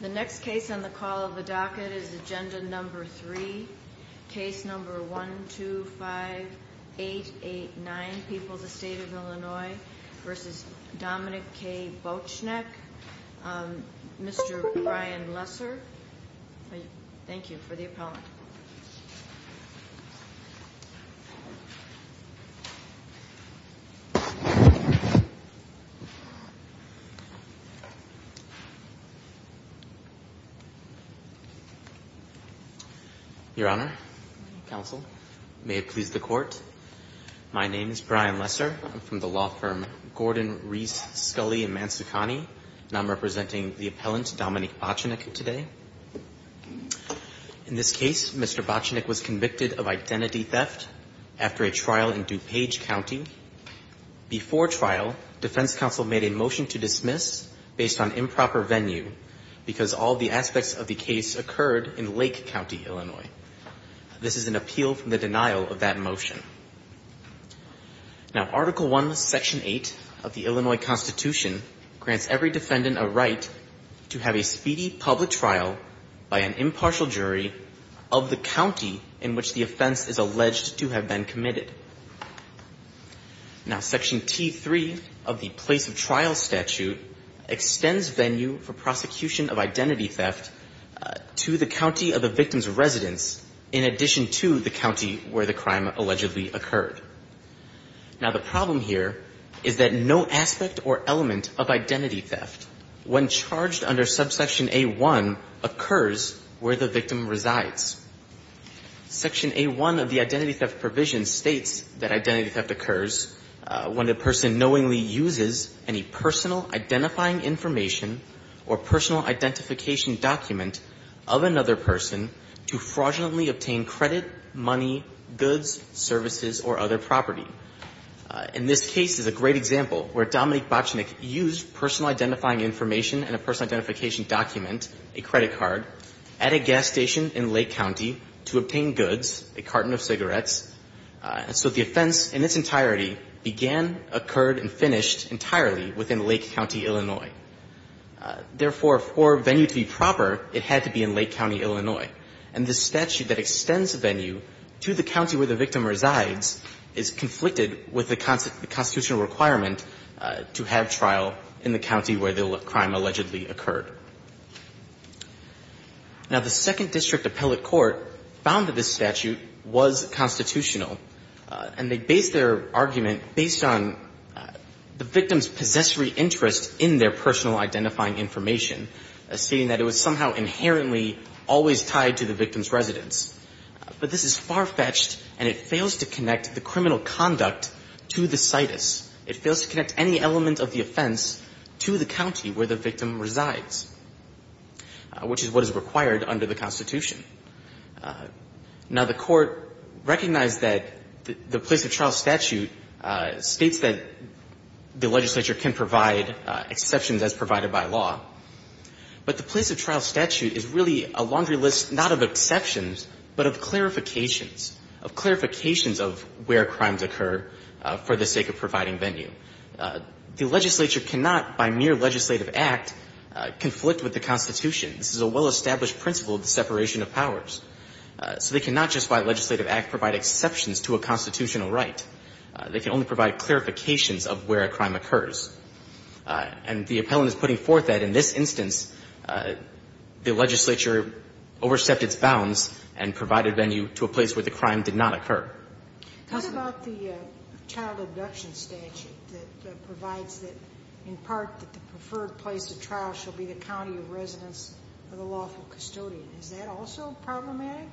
The next case on the call of the docket is agenda number three. Case number one, two, five, eight, eight, nine. People's Estate of Illinois v. Dominic K. Bochenek. Mr. Brian Lesser. Thank you for the appellant. Your Honor, counsel, may it please the court. My name is Brian Lesser. I'm from the law firm Gordon, Reese, Scully, and Manzacani, and I'm representing the appellant Dominic Bochenek today. In this case, Mr. Bochenek was convicted of identity theft after a trial in DuPage County. Before trial, defense counsel made a motion to dismiss based on improper venue because all the aspects of the case occurred in Lake County, Illinois. This is an appeal from the denial of that motion. Now, Article I, Section 8 of the Illinois Constitution grants every defendant a right to have a speedy public trial by an impartial jury of the county in which the offense is alleged to have been committed. Now, Section T3 of the Place of Trial Statute extends venue for prosecution of identity theft to the county of the victim's residence in addition to the county where the crime allegedly occurred. Now, the problem here is that no aspect or element of identity theft when charged under subsection A1 occurs where the victim resides. Section A1 of the Identity Theft Provision states that identity theft occurs when a person knowingly uses any personal identifying information or personal identification document of another person to fraudulently obtain credit, money, goods, services, or other property. In this case, there's a great example where Dominique Bochenek used personal identifying information and a personal identification document, a credit card, at a gas station in Lake County to obtain goods, a carton of cigarettes. So the offense in its entirety began, occurred, and finished entirely within Lake County, Illinois. Therefore, for venue to be proper, it had to be in Lake County, Illinois. And this statute that extends venue to the county where the victim resides is conflicted with the constitutional requirement to have trial in the county where the crime allegedly occurred. Now, the Second District Appellate Court found that this statute was constitutional, and they based their argument based on the victim's possessory interest in their personal identifying information, stating that it was somehow inherently always tied to the victim's residence. But this is far-fetched, and it fails to connect the criminal conduct to the situs. It fails to connect any element of the offense to the county where the victim resides, which is what is required under the Constitution. Now, the Court recognized that the place-of-trial statute states that the legislature can provide exceptions as provided by law. But the place-of-trial statute is really a laundry list not of exceptions, but of clarifications, of clarifications of where crimes occur for the sake of providing venue. The legislature cannot, by mere legislative act, conflict with the Constitution. This is a well-established principle of the separation of powers. So they cannot, just by legislative act, provide exceptions to a constitutional right. They can only provide clarifications of where a crime occurs. And the appellant is putting forth that in this instance, the legislature overstepped its bounds and provided venue to a place where the crime did not occur. Sotomayor, what about the child abduction statute that provides that, in part, that the preferred place-of-trial shall be the county of residence of the lawful custodian? Is that also problematic?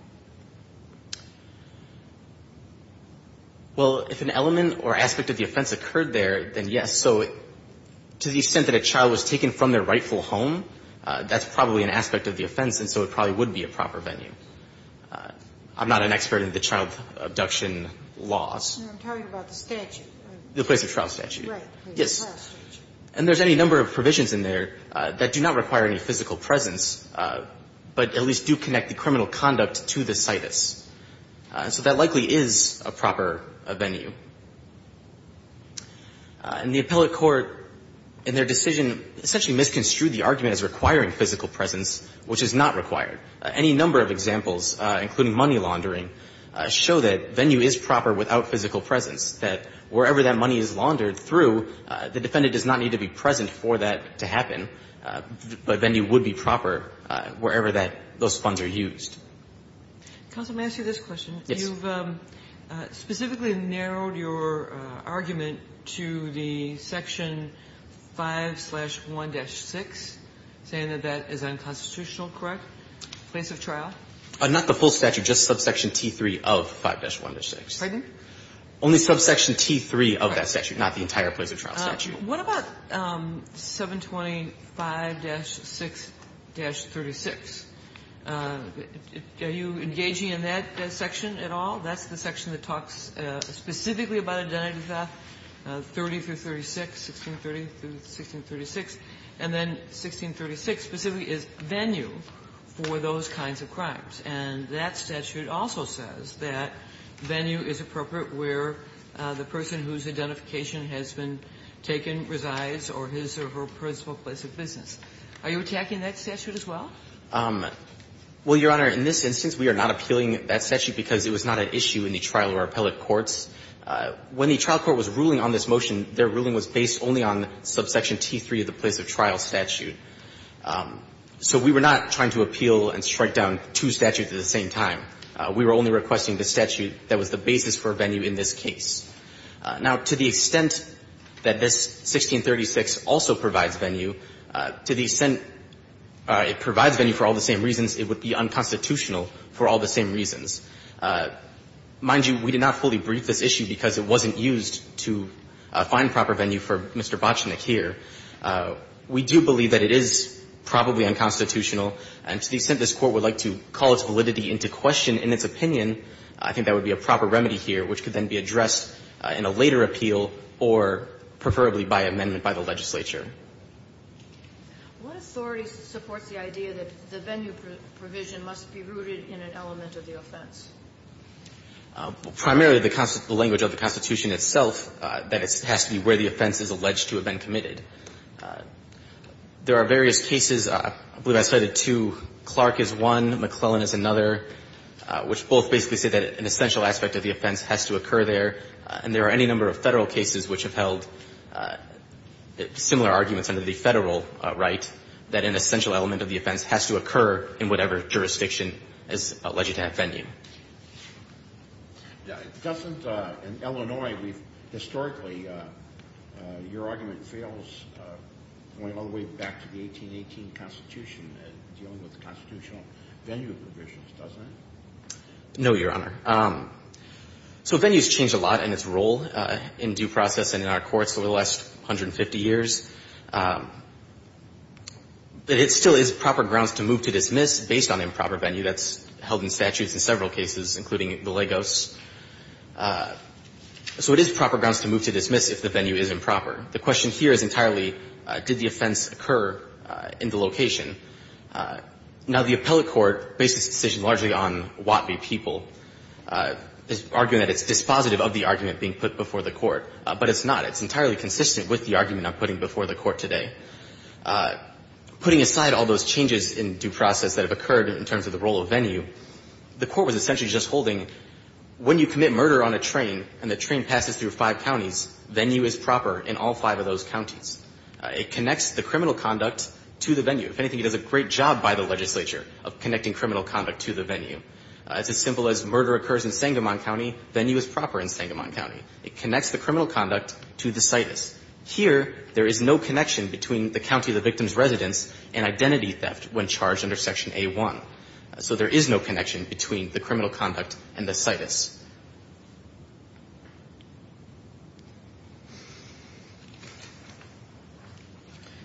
Well, if an element or aspect of the offense occurred there, then yes. So to the extent that a child was taken from their rightful home, that's probably an aspect of the offense, and so it probably would be a proper venue. I'm not an expert in the child abduction laws. No, I'm talking about the statute. The place-of-trial statute. Right, the place-of-trial statute. Yes. And there's any number of provisions in there that do not require any physical presence, but at least do connect the criminal conduct to the situs. So that likely is a proper venue. And the appellate court, in their decision, essentially misconstrued the argument as requiring physical presence, which is not required. Any number of examples, including money laundering, show that venue is proper without physical presence, that wherever that money is laundered through, the defendant does not need to be present for that to happen. But venue would be proper wherever that those funds are used. Counsel, may I ask you this question? You've specifically narrowed your argument to the section 5-1-6, saying that that is unconstitutional, correct? Place-of-trial? Not the full statute, just subsection T3 of 5-1-6. Pardon? Only subsection T3 of that statute, not the entire place-of-trial statute. What about 725-6-36? Are you engaging in that section at all? That's the section that talks specifically about identity theft, 30 through 36, 1630 through 1636. And then 1636 specifically is venue for those kinds of crimes. And that statute also says that venue is appropriate where the person whose identification has been taken resides or his or her principal place of business. Are you attacking that statute as well? Well, Your Honor, in this instance we are not appealing that statute because it was not at issue in the trial or appellate courts. When the trial court was ruling on this motion, their ruling was based only on subsection T3 of the place-of-trial statute. So we were not trying to appeal and strike down two statutes at the same time. We were only requesting the statute that was the basis for venue in this case. Now, to the extent that this 1636 also provides venue, to the extent it provides venue for all the same reasons, it would be unconstitutional for all the same reasons. Mind you, we did not fully brief this issue because it wasn't used to find proper venue for Mr. Botchinick here. We do believe that it is probably unconstitutional. And to the extent this Court would like to call its validity into question in its opinion, I think that would be a proper remedy here, which could then be addressed in a later appeal or preferably by amendment by the legislature. What authority supports the idea that the venue provision must be rooted in an element of the offense? Primarily the language of the Constitution itself, that it has to be where the offense is alleged to have been committed. There are various cases. I believe I cited two. Clark is one. McClellan is another, which both basically say that an essential aspect of the offense has to occur there. And there are any number of Federal cases which have held similar arguments under the Federal right that an essential element of the offense has to occur in whatever jurisdiction is alleged to have venue. Doesn't in Illinois we've historically, your argument fails going all the way back to the 1818 Constitution dealing with the constitutional venue provisions, doesn't it? No, Your Honor. So venues change a lot in its role in due process and in our courts over the last 150 years. But it still is proper grounds to move to dismiss based on improper venue. That's held in statutes in several cases, including the Lagos. So it is proper grounds to move to dismiss if the venue is improper. The question here is entirely did the offense occur in the location? Now, the appellate court bases its decision largely on Watbee people, arguing that it's dispositive of the argument being put before the court. But it's not. It's entirely consistent with the argument I'm putting before the court today. Putting aside all those changes in due process that have occurred in terms of the role of venue, the court was essentially just holding when you commit murder on a train and the train passes through five counties, venue is proper in all five of those counties. It connects the criminal conduct to the venue. If anything, it does a great job by the legislature of connecting criminal conduct to the venue. It's as simple as murder occurs in Sangamon County, venue is proper in Sangamon County. It connects the criminal conduct to the situs. Here, there is no connection between the county of the victim's residence and identity theft when charged under Section A1. So there is no connection between the criminal conduct and the situs.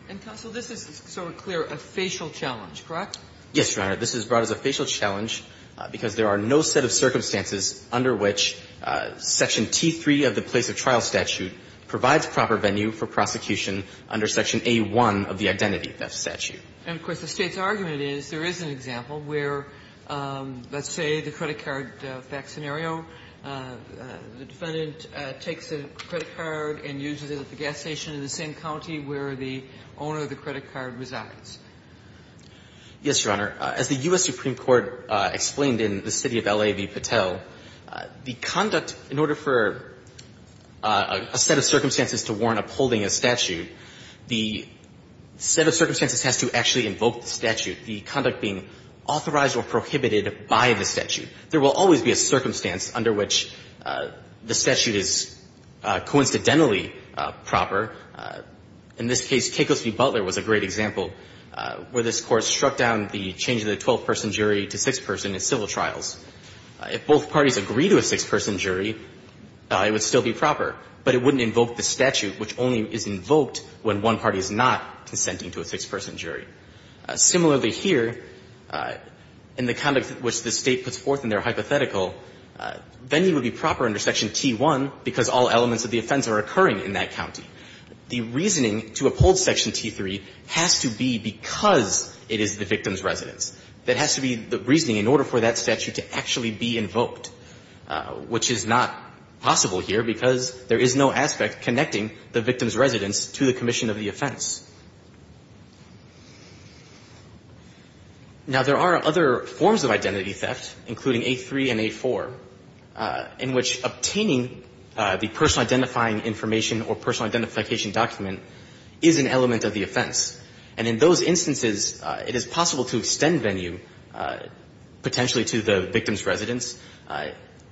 And, counsel, this is sort of clear a facial challenge, correct? Yes, Your Honor. This is brought as a facial challenge because there are no set of circumstances under which Section T3 of the place of trial statute provides proper venue for prosecution under Section A1 of the identity theft statute. And, of course, the State's argument is there is an example where, let's say, the defendant takes a credit card and uses it at the gas station in the same county where the owner of the credit card resides. Yes, Your Honor. As the U.S. Supreme Court explained in the city of L.A. v. Patel, the conduct in order for a set of circumstances to warrant upholding a statute, the set of circumstances has to actually invoke the statute, the conduct being authorized or prohibited by the statute. There will always be a circumstance under which the statute is coincidentally proper. In this case, Cacos v. Butler was a great example where this Court struck down the change of the 12-person jury to six-person in civil trials. If both parties agree to a six-person jury, it would still be proper, but it wouldn't invoke the statute, which only is invoked when one party is not consenting to a six-person jury. Similarly here, in the conduct which the State puts forth in their hypothetical, then it would be proper under Section T1 because all elements of the offense are occurring in that county. The reasoning to uphold Section T3 has to be because it is the victim's residence. There has to be the reasoning in order for that statute to actually be invoked, which is not possible here because there is no aspect connecting the victim's residence to the offense. Now, there are other forms of identity theft, including 8-3 and 8-4, in which obtaining the personal identifying information or personal identification document is an element of the offense. And in those instances, it is possible to extend venue potentially to the victim's residence.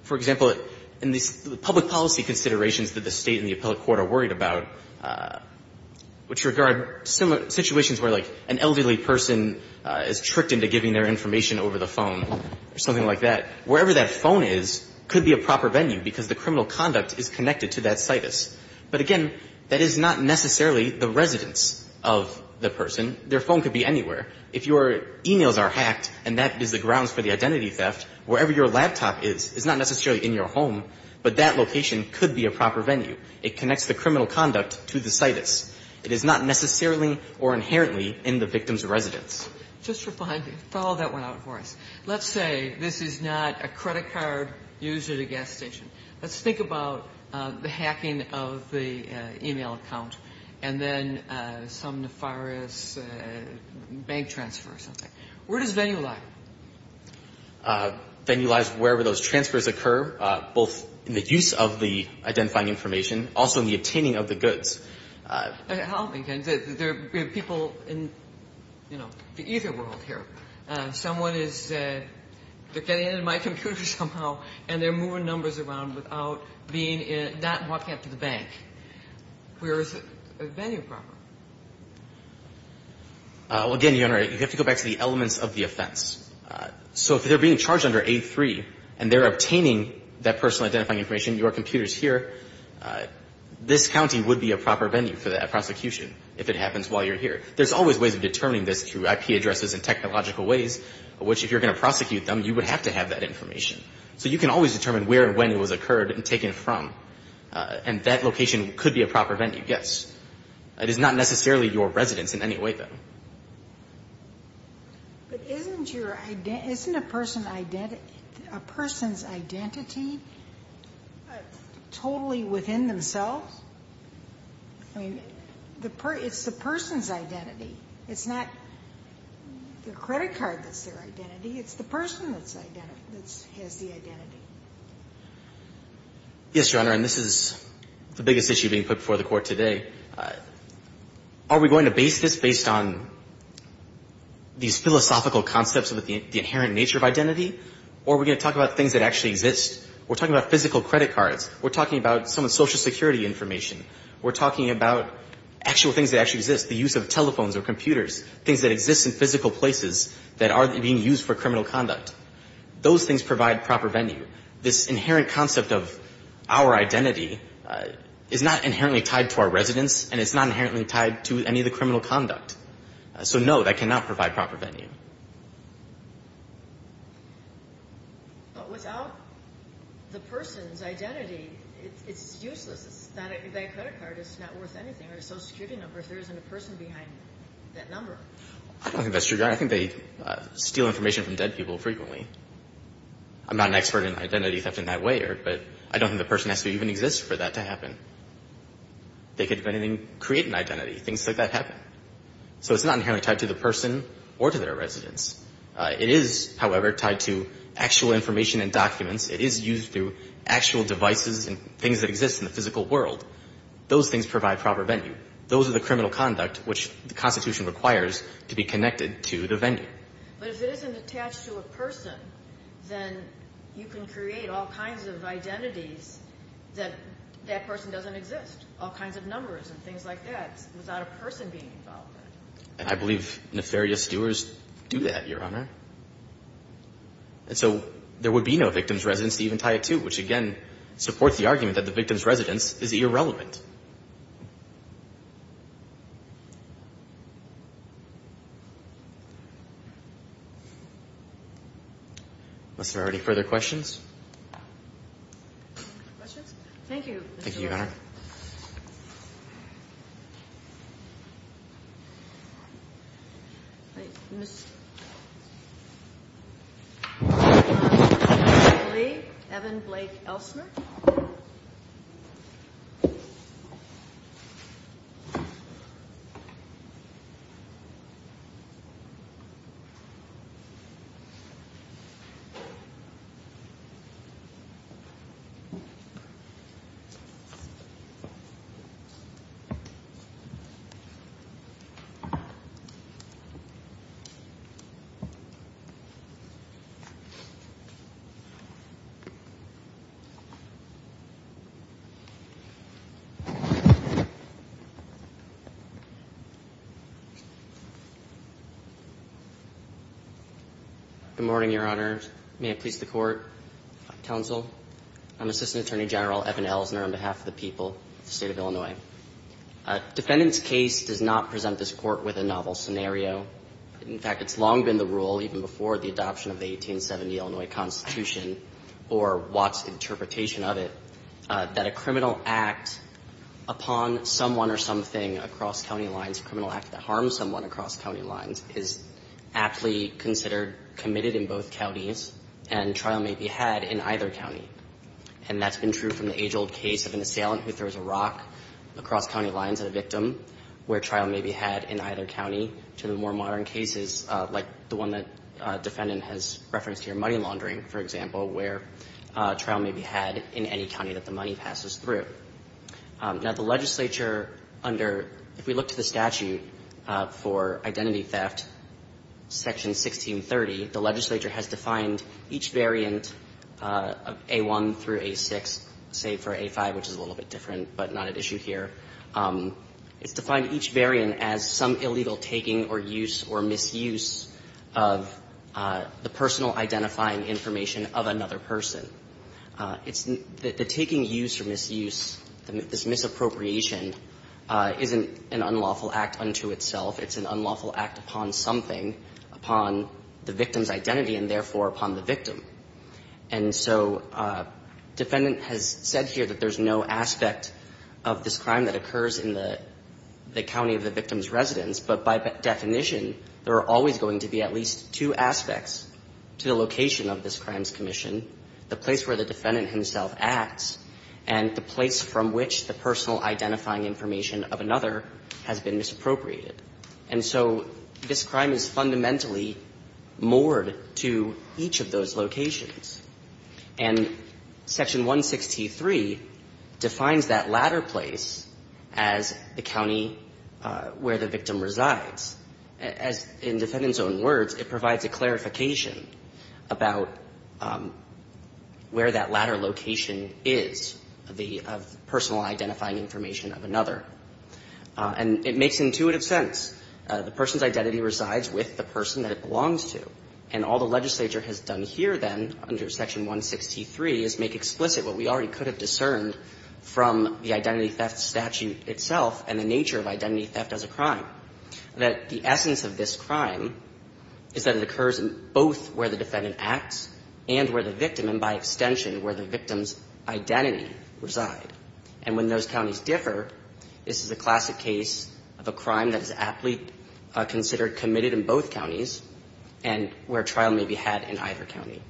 For example, in the public policy considerations that the State and the appellate court are worried about, which regard situations where, like, an elderly person is tricked into giving their information over the phone or something like that, wherever that phone is could be a proper venue because the criminal conduct is connected to that situs. But again, that is not necessarily the residence of the person. Their phone could be anywhere. If your e-mails are hacked and that is the grounds for the identity theft, wherever your laptop is is not necessarily in your home, but that location could be a proper venue. It connects the criminal conduct to the situs. It is not necessarily or inherently in the victim's residence. Just for fun, follow that one out for us. Let's say this is not a credit card used at a gas station. Let's think about the hacking of the e-mail account and then some nefarious bank transfer or something. Where does venue lie? Venue lies wherever those transfers occur, both in the use of the identifying information, also in the obtaining of the goods. I don't think there are people in, you know, the ether world here. Someone is they're getting into my computer somehow and they're moving numbers around without being in, not walking up to the bank. Where is venue proper? Again, Your Honor, you have to go back to the elements of the offense. So if they're being charged under 8-3 and they're obtaining that personal identifying information, your computer is here, this county would be a proper venue for that prosecution if it happens while you're here. There's always ways of determining this through IP addresses and technological ways, which if you're going to prosecute them, you would have to have that information. So you can always determine where and when it was occurred and taken from. And that location could be a proper venue, yes. It is not necessarily your residence in any way, though. But isn't your identity, isn't a person's identity totally within themselves? I mean, it's the person's identity. It's not the credit card that's their identity. It's the person that has the identity. Yes, Your Honor, and this is the biggest issue being put before the Court today. Are we going to base this based on these philosophical concepts of the inherent nature of identity? Or are we going to talk about things that actually exist? We're talking about physical credit cards. We're talking about someone's Social Security information. We're talking about actual things that actually exist, the use of telephones or computers, things that exist in physical places that are being used for criminal conduct. Those things provide proper venue. This inherent concept of our identity is not inherently tied to our residence, and it's not inherently tied to any of the criminal conduct. So, no, that cannot provide proper venue. But without the person's identity, it's useless. That credit card is not worth anything, or a Social Security number if there isn't a person behind that number. I don't think that's true, Your Honor. I think they steal information from dead people frequently. I'm not an expert in identity theft in that way, but I don't think the person has to even exist for that to happen. They could, if anything, create an identity. Things like that happen. So it's not inherently tied to the person or to their residence. It is, however, tied to actual information and documents. It is used through actual devices and things that exist in the physical world. Those things provide proper venue. Those are the criminal conduct which the Constitution requires to be connected to the venue. But if it isn't attached to a person, then you can create all kinds of identities that that person doesn't exist. All kinds of numbers and things like that without a person being involved in it. And I believe nefarious doers do that, Your Honor. And so there would be no victim's residence to even tie it to, which, again, supports the argument that the victim's residence is irrelevant. Unless there are any further questions. Questions? Thank you, Mr. Warren. Thank you, Your Honor. Mr. Lee, Evan Blake Elsner. Thank you, Your Honor. Good morning, Your Honor. May it please the Court. Counsel, I'm Assistant Attorney General Evan Elsner on behalf of the people of the State of Illinois. A defendant's case does not present this Court with a novel scenario. In fact, it's long been the rule, even before the adoption of the 1870 Illinois Constitution or Watt's interpretation of it, that a criminal act upon someone or something across county lines, a criminal act that harms someone across county lines, is aptly considered committed in both counties and trial may be had in either county. And that's been true from the age-old case of an assailant who throws a rock across county lines at a victim, where trial may be had in either county, to the more money laundering, for example, where trial may be had in any county that the money passes through. Now, the legislature under — if we look to the statute for identity theft, Section 1630, the legislature has defined each variant of A1 through A6, save for A5, which is a little bit different but not at issue here. It's defined each variant as some illegal taking or use or misuse of the personal identifying information of another person. The taking use or misuse, this misappropriation, isn't an unlawful act unto itself. It's an unlawful act upon something, upon the victim's identity, and therefore upon the victim. And so defendant has said here that there's no aspect of this crime that occurs in the county of the victim's residence, but by definition, there are always going to be at least two aspects to the location of this crime's commission, the place where the defendant himself acts, and the place from which the personal identifying information of another has been misappropriated. And so this crime is fundamentally moored to each of those locations. And Section 163 defines that latter place as the clarification about where that latter location is, the personal identifying information of another. And it makes intuitive sense. The person's identity resides with the person that it belongs to. And all the legislature has done here, then, under Section 163, is make explicit what we already could have discerned from the identity theft statute itself and the is that it occurs in both where the defendant acts and where the victim, and by extension, where the victim's identity reside. And when those counties differ, this is a classic case of a crime that is aptly considered committed in both counties and where trial may be had in either county.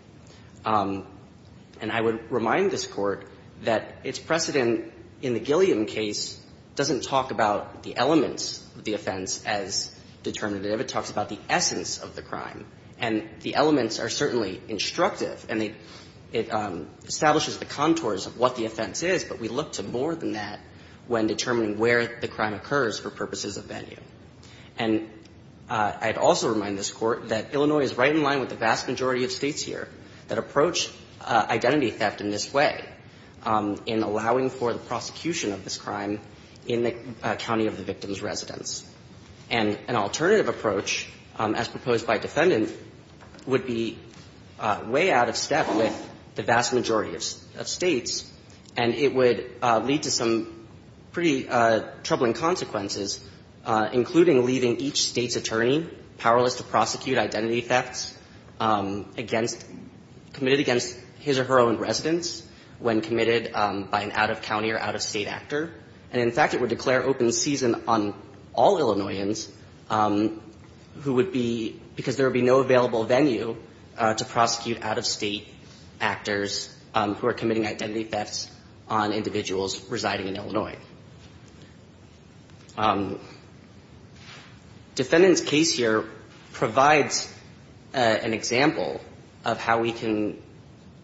And I would remind this Court that its precedent in the Gilliam case doesn't talk about the elements of the offense as determinative. It talks about the essence of the crime. And the elements are certainly instructive, and it establishes the contours of what the offense is, but we look to more than that when determining where the crime occurs for purposes of venue. And I'd also remind this Court that Illinois is right in line with the vast majority of States here that approach identity theft in this way, in allowing for the prosecution of this crime in the county of the victim's residence. And an alternative approach, as proposed by defendant, would be way out of step with the vast majority of States, and it would lead to some pretty troubling consequences, including leaving each State's attorney powerless to prosecute identity thefts against, committed against his or her own residence when committed by an out-of-county or out-of-State actor. And in fact, it would declare open season on all Illinoisans who would be, because there would be no available venue to prosecute out-of-State actors who are committing identity thefts on individuals residing in Illinois. Defendant's case here provides an example of how we can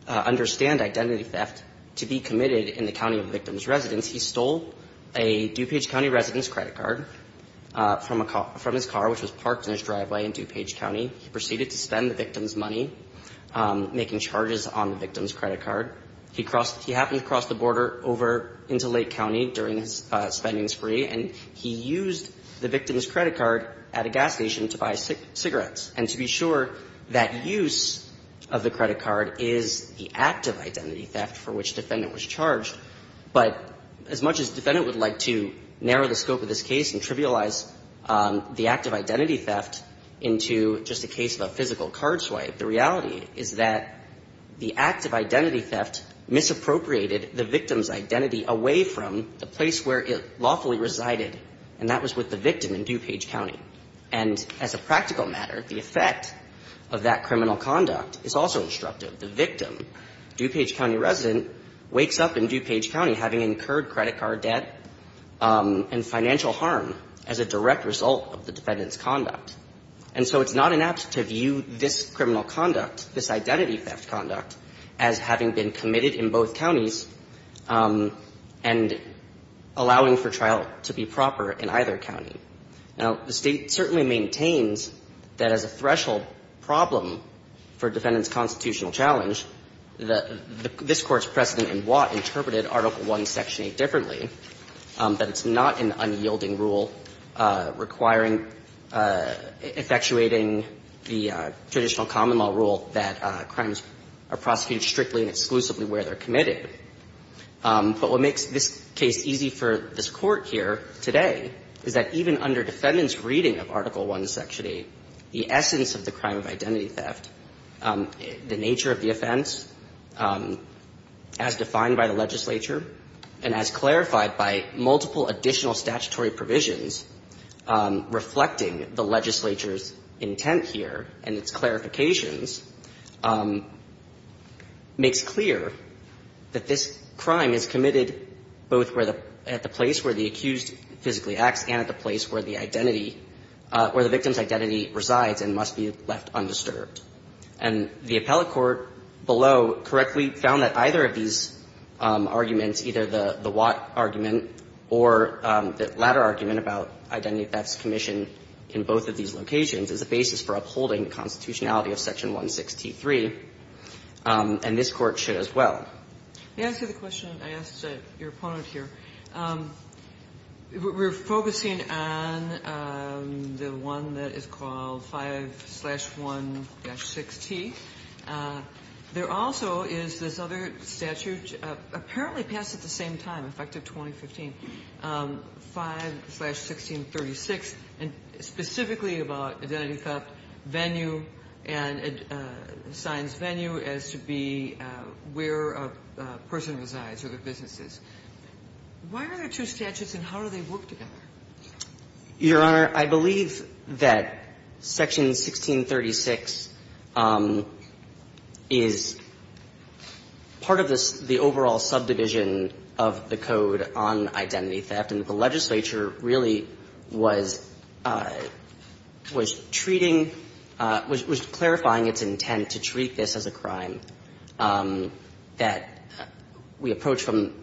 understand identity theft to be committed in the county of the victim's residence. He stole a DuPage County resident's credit card from his car, which was parked in his driveway in DuPage County. He proceeded to spend the victim's money making charges on the victim's credit card. He happened to cross the border over into Lake County during his spending spree, and he used the victim's credit card at a gas station to buy cigarettes. And to be sure, that use of the credit card is the act of identity theft for which defendant was charged. But as much as defendant would like to narrow the scope of this case and trivialize the act of identity theft into just a case of a physical card swipe, the reality is that the act of identity theft misappropriated the victim's identity away from the place where it lawfully resided, and that was with the victim in DuPage County. And as a practical matter, the effect of that criminal conduct is also instructive. The victim, DuPage County resident, wakes up in DuPage County having incurred credit card debt and financial harm as a direct result of the defendant's conduct. And so it's not inapt to view this criminal conduct, this identity theft conduct, as having been committed in both counties and allowing for trial to be proper in either county. Now, the State certainly maintains that as a threshold problem for a defendant's constitutional challenge, this Court's precedent in Watt interpreted Article I, Section 8 differently, that it's not an unyielding rule requiring or effectuating the traditional common law rule that crimes are prosecuted strictly and exclusively where they're committed. But what makes this case easy for this Court here today is that even under defendants' reading of Article I, Section 8, the essence of the crime of identity theft, the nature of the offense as defined by the legislature and as clarified by multiple additional statutory provisions reflecting the legislature's intent here and its clarifications, makes clear that this crime is committed both at the place where the accused physically acts and at the place where the identity or the victim's identity resides and must be left undisturbed. And the appellate court below correctly found that either of these arguments, either the Watt argument or the latter argument about identity theft's commission in both of these locations, is a basis for upholding the constitutionality of Section 163, and this Court should as well. Kagan. They answer the question I asked your opponent here. We're focusing on the one that is called 5-1-6t. There also is this other statute, apparently passed at the same time, effective 2015, 5-1636, specifically about identity theft venue and signs venue as to be where a person resides or their business is. Why are there two statutes, and how do they work together? Your Honor, I believe that Section 1636 is part of the overall subdivision of the Code on identity theft, and the legislature really was treating, was clarifying its intent to treat this as a crime that we approach from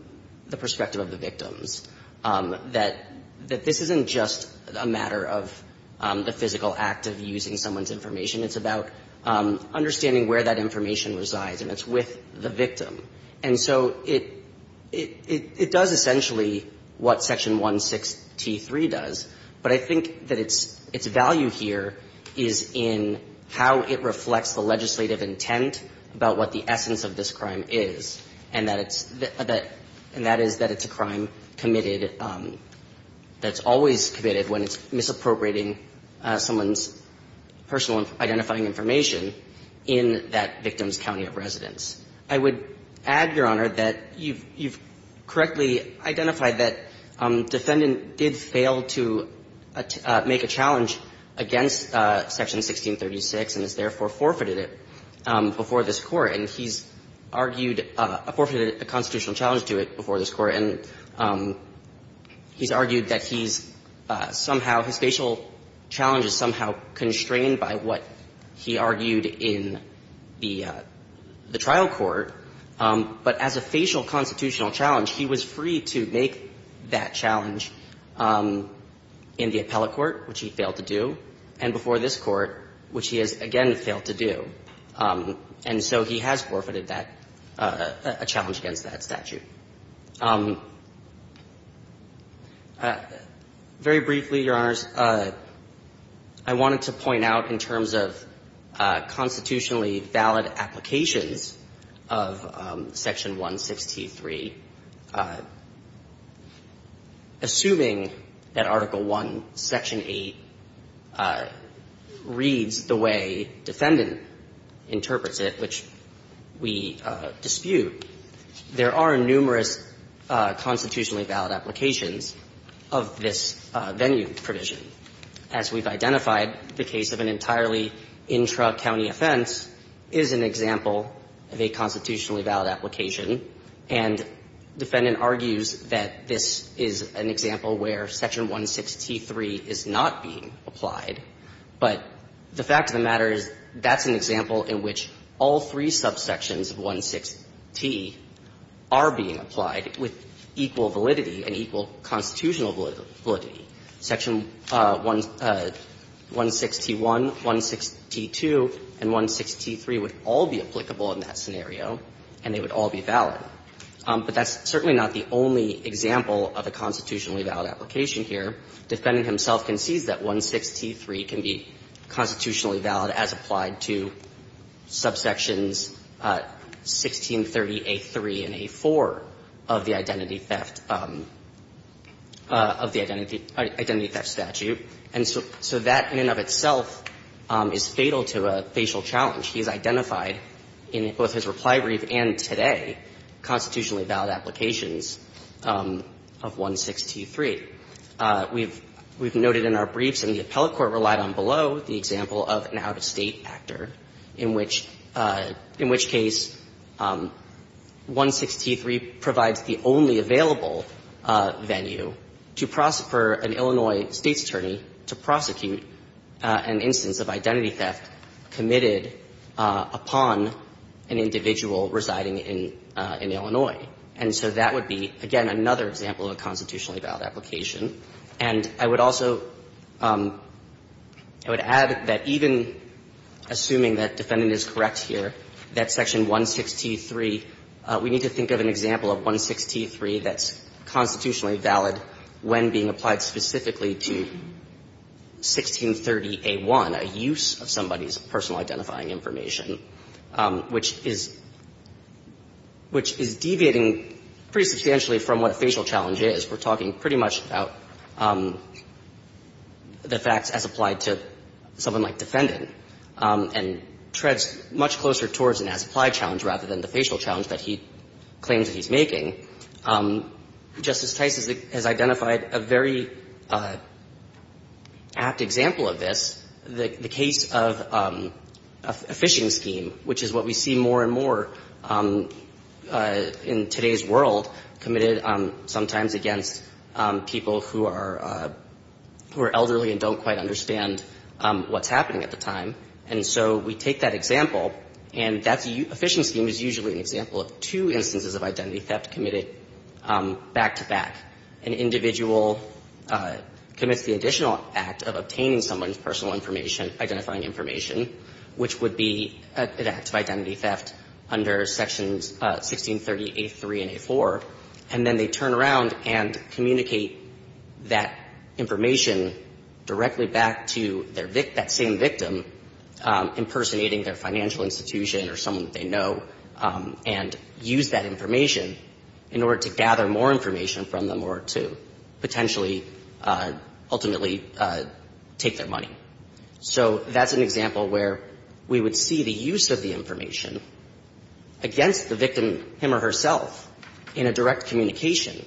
the perspective of the victims, that this isn't just a matter of the physical act of using someone's information. It's about understanding where that information resides, and it's with the victim. And so it does essentially what Section 163 does, but I think that its value here is in how it reflects the legislative intent about what the essence of this crime is, and that it's a crime committed, that's always committed when it's misappropriating someone's personal identifying information in that victim's county of residence. I would add, Your Honor, that you've correctly identified that Defendant did fail to make a challenge against Section 1636 and has therefore forfeited it before this Court, and he's argued, forfeited a constitutional challenge to it before this Court, and he's argued that he's somehow, his facial challenge is somehow constrained by what he argued in the trial court, but as a facial constitutional challenge, he was free to make that challenge in the appellate court, which he failed to do, and before this Court, which he has again failed to do. And so he has forfeited that, a challenge against that statute. Very briefly, Your Honors, I wanted to point out in terms of constitutionally valid applications of Section 163, assuming that Article I, Section 8, reads the way Defendant interprets it, which we dispute, there are numerous constitutionally valid applications of this venue provision. As we've identified, the case of an entirely intra-county offense is an example of a constitutionally valid application, and Defendant argues that this is an example where Section 163 is not being applied, but the fact of the matter is that's an example in which all three subsections of 16T are being applied with equal validity and equal constitutional validity. Section 161, 162, and 163 would all be applicable in that scenario, and they would all be valid. But that's certainly not the only example of a constitutionally valid application here. Defendant himself concedes that 163 can be constitutionally valid as applied to subsections 1630a3 and a4 of the identity theft, of the identity theft statute, and so that in and of itself is fatal to a facial challenge. He has identified in both his reply brief and today constitutionally valid applications of 163. We've noted in our briefs, and the appellate court relied on below, the example of an out-of-State actor, in which case 163 provides the only available venue for an Illinois State's attorney to prosecute an instance of identity theft committed upon an individual residing in Illinois. And so that would be, again, another example of a constitutionally valid application. And I would also, I would add that even assuming that defendant is correct here, that section 163, we need to think of an example of 163 that's constitutionally valid when being applied specifically to 1630a1, a use of somebody's personal identifying information, which is, which is deviating pretty substantially from what a facial challenge is. We're talking pretty much about the facts as applied to someone like defendant and treads much closer towards an as-applied challenge rather than the facial challenge that he claims that he's making. Justice Tice has identified a very apt example of this, the case of a phishing scheme, which is what we see more and more in today's world committed sometimes against people who are elderly and don't quite understand what's happening at the time. And so we take that example, and that phishing scheme is usually an example of two instances of identity theft committed back-to-back. An individual commits the additional act of obtaining someone's personal information, identifying information, which would be an act of identity theft under sections 1630a3 and a4, and then they turn around and communicate that information directly back to their victim, that same victim, impersonating their financial institution or someone that they know, and use that information in order to gather more information from them or to potentially ultimately take their money. So that's an example where we would see the use of the information against the victim, him or herself, in a direct communication,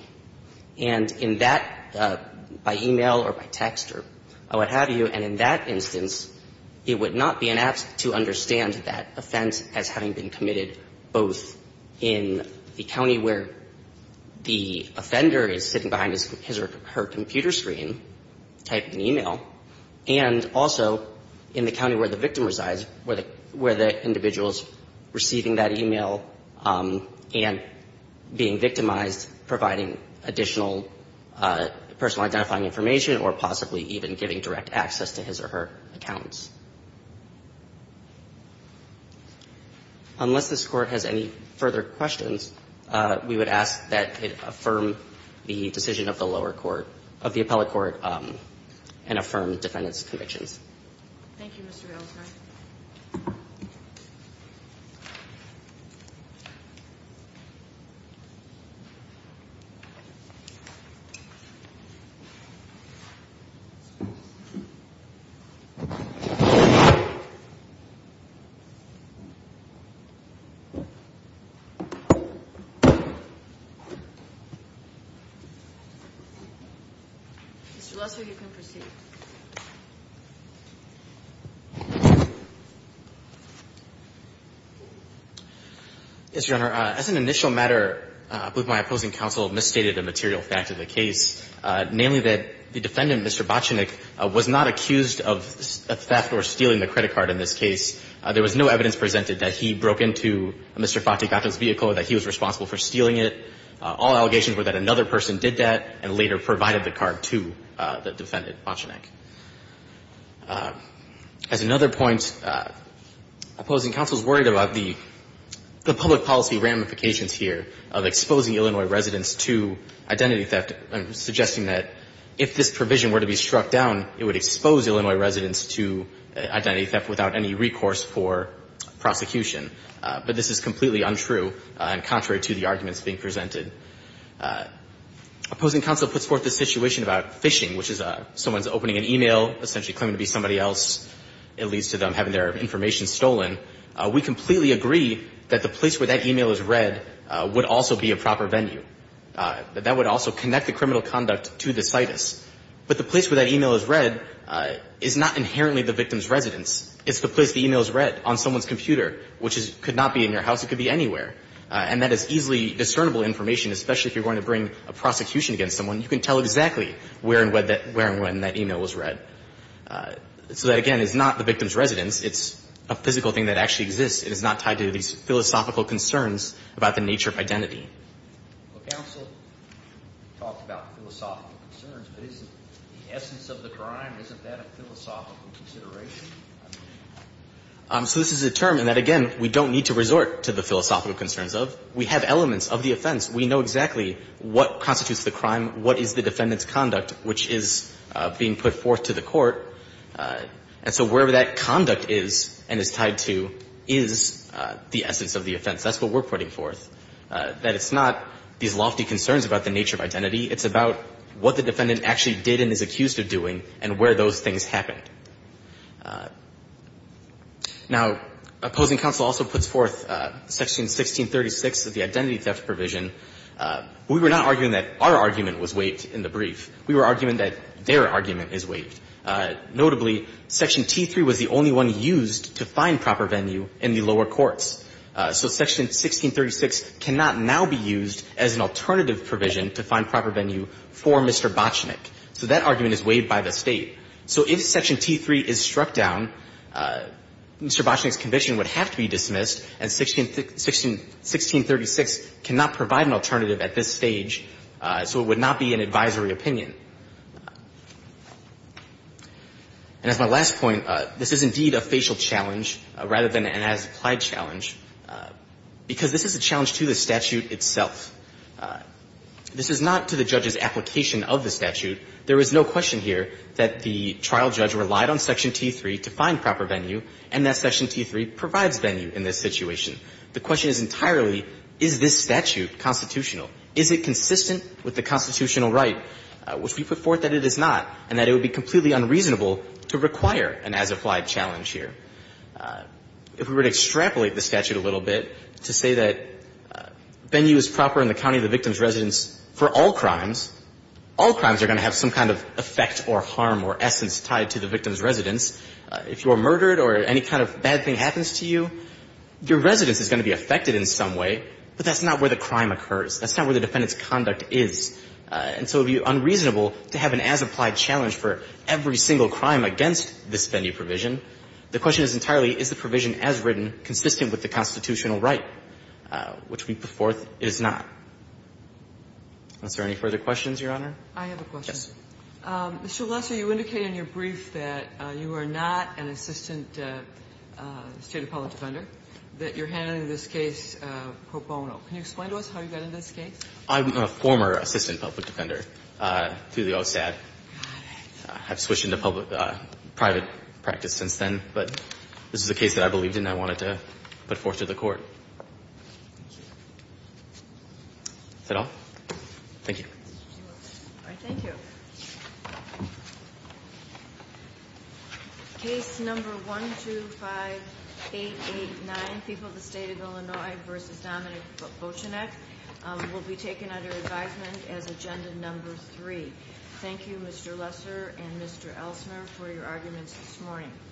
and in that, by e-mail or by text or what have you, and in that instance, it would not be an act to understand that offense as having been committed both in the county where the offender is sitting behind his or her computer screen typing e-mail and also in the county where the victim resides, where the individual is receiving that e-mail and being victimized, providing additional personal identifying information or possibly even giving direct access to his or her accountants. Unless this Court has any further questions, we would ask that it affirm the decision of the lower court, of the appellate court, and affirm defendant's convictions. Thank you, Mr. Valesky. Mr. Lesser, you can proceed. Yes, Your Honor. As an initial matter, I believe my opposing counsel misstated a material fact of the case, namely that the defendant, Mr. Botchinick, was not accused of theft or stealing the credit card in this case. There was no evidence presented that he broke into Mr. Fattigatto's vehicle or that he was responsible for stealing it. All allegations were that another person did that and later provided the card to the defendant, Botchinick. As another point, opposing counsel is worried about the public policy ramifications here of exposing Illinois residents to identity theft and suggesting that if this provision were to be struck down, it would expose Illinois residents to identity theft without any recourse for prosecution. But this is completely untrue and contrary to the situation about phishing, which is someone's opening an e-mail, essentially claiming to be somebody else. It leads to them having their information stolen. We completely agree that the place where that e-mail is read would also be a proper venue. That that would also connect the criminal conduct to the situs. But the place where that e-mail is read is not inherently the victim's residence. It's the place the e-mail is read on someone's computer, which could not be in your house. It could be anywhere. And that is easily discernible information, especially if you're going to bring a prosecution against someone. You can tell exactly where and when that e-mail was read. So that, again, is not the victim's residence. It's a physical thing that actually exists. It is not tied to these philosophical concerns about the nature of identity. Counsel talked about philosophical concerns, but isn't the essence of the crime, isn't that a philosophical consideration? So this is a term in that, again, we don't need to resort to the philosophical concerns of. We have elements of the offense. We know exactly what constitutes the crime, what is the defendant's conduct, which is being put forth to the court. And so wherever that conduct is and is tied to is the essence of the offense. That's what we're putting forth, that it's not these lofty concerns about the nature of identity. It's about what the defendant actually did and is accused of doing and where those things happened. Now, opposing counsel also puts forth Section 1636 of the identity theft provision. We were not arguing that our argument was waived in the brief. We were arguing that their argument is waived. Notably, Section T3 was the only one used to find proper venue in the lower courts. So Section 1636 cannot now be used as an alternative provision to find proper venue for Mr. Botchinick. So that argument is waived by the State. So if Section T3 is struck down, Mr. Botchinick's conviction would have to be dismissed and 1636 cannot provide an alternative at this stage, so it would not be an advisory opinion. And as my last point, this is indeed a facial challenge rather than an as-applied challenge, because this is a challenge to the statute itself. If we were to extrapolate, there is no question here that the trial judge relied on Section T3 to find proper venue and that Section T3 provides venue in this situation. The question is entirely, is this statute constitutional? Is it consistent with the constitutional right? Which we put forth that it is not and that it would be completely unreasonable to require an as-applied challenge here. If we were to extrapolate the statute a little bit to say that venue is proper in the county of the victim's residence for all crimes, all crimes are going to have some kind of effect or harm or essence tied to the victim's residence, if you are murdered or any kind of bad thing happens to you, your residence is going to be affected in some way, but that's not where the crime occurs. That's not where the defendant's conduct is, and so it would be unreasonable to have an as-applied challenge for every single crime against this venue provision. The question is entirely, is the provision as written consistent with the constitutional right, which we put forth it is not. Is there any further questions, Your Honor? I have a question. Yes. Mr. Valesky, you indicated in your brief that you are not an assistant State public defender, that you're handling this case pro bono. Can you explain to us how you got into this case? I'm a former assistant public defender through the OSAD. Got it. I've switched into public private practice since then, but this is a case that I believed in and I wanted to put forth to the Court. Is that all? Thank you. All right. Thank you. Case number 125889, People of the State of Illinois v. Dominic Bochenek, will be taken under advisement as agenda number three. Thank you, Mr. Lesser and Mr. Elsner, for your arguments this morning.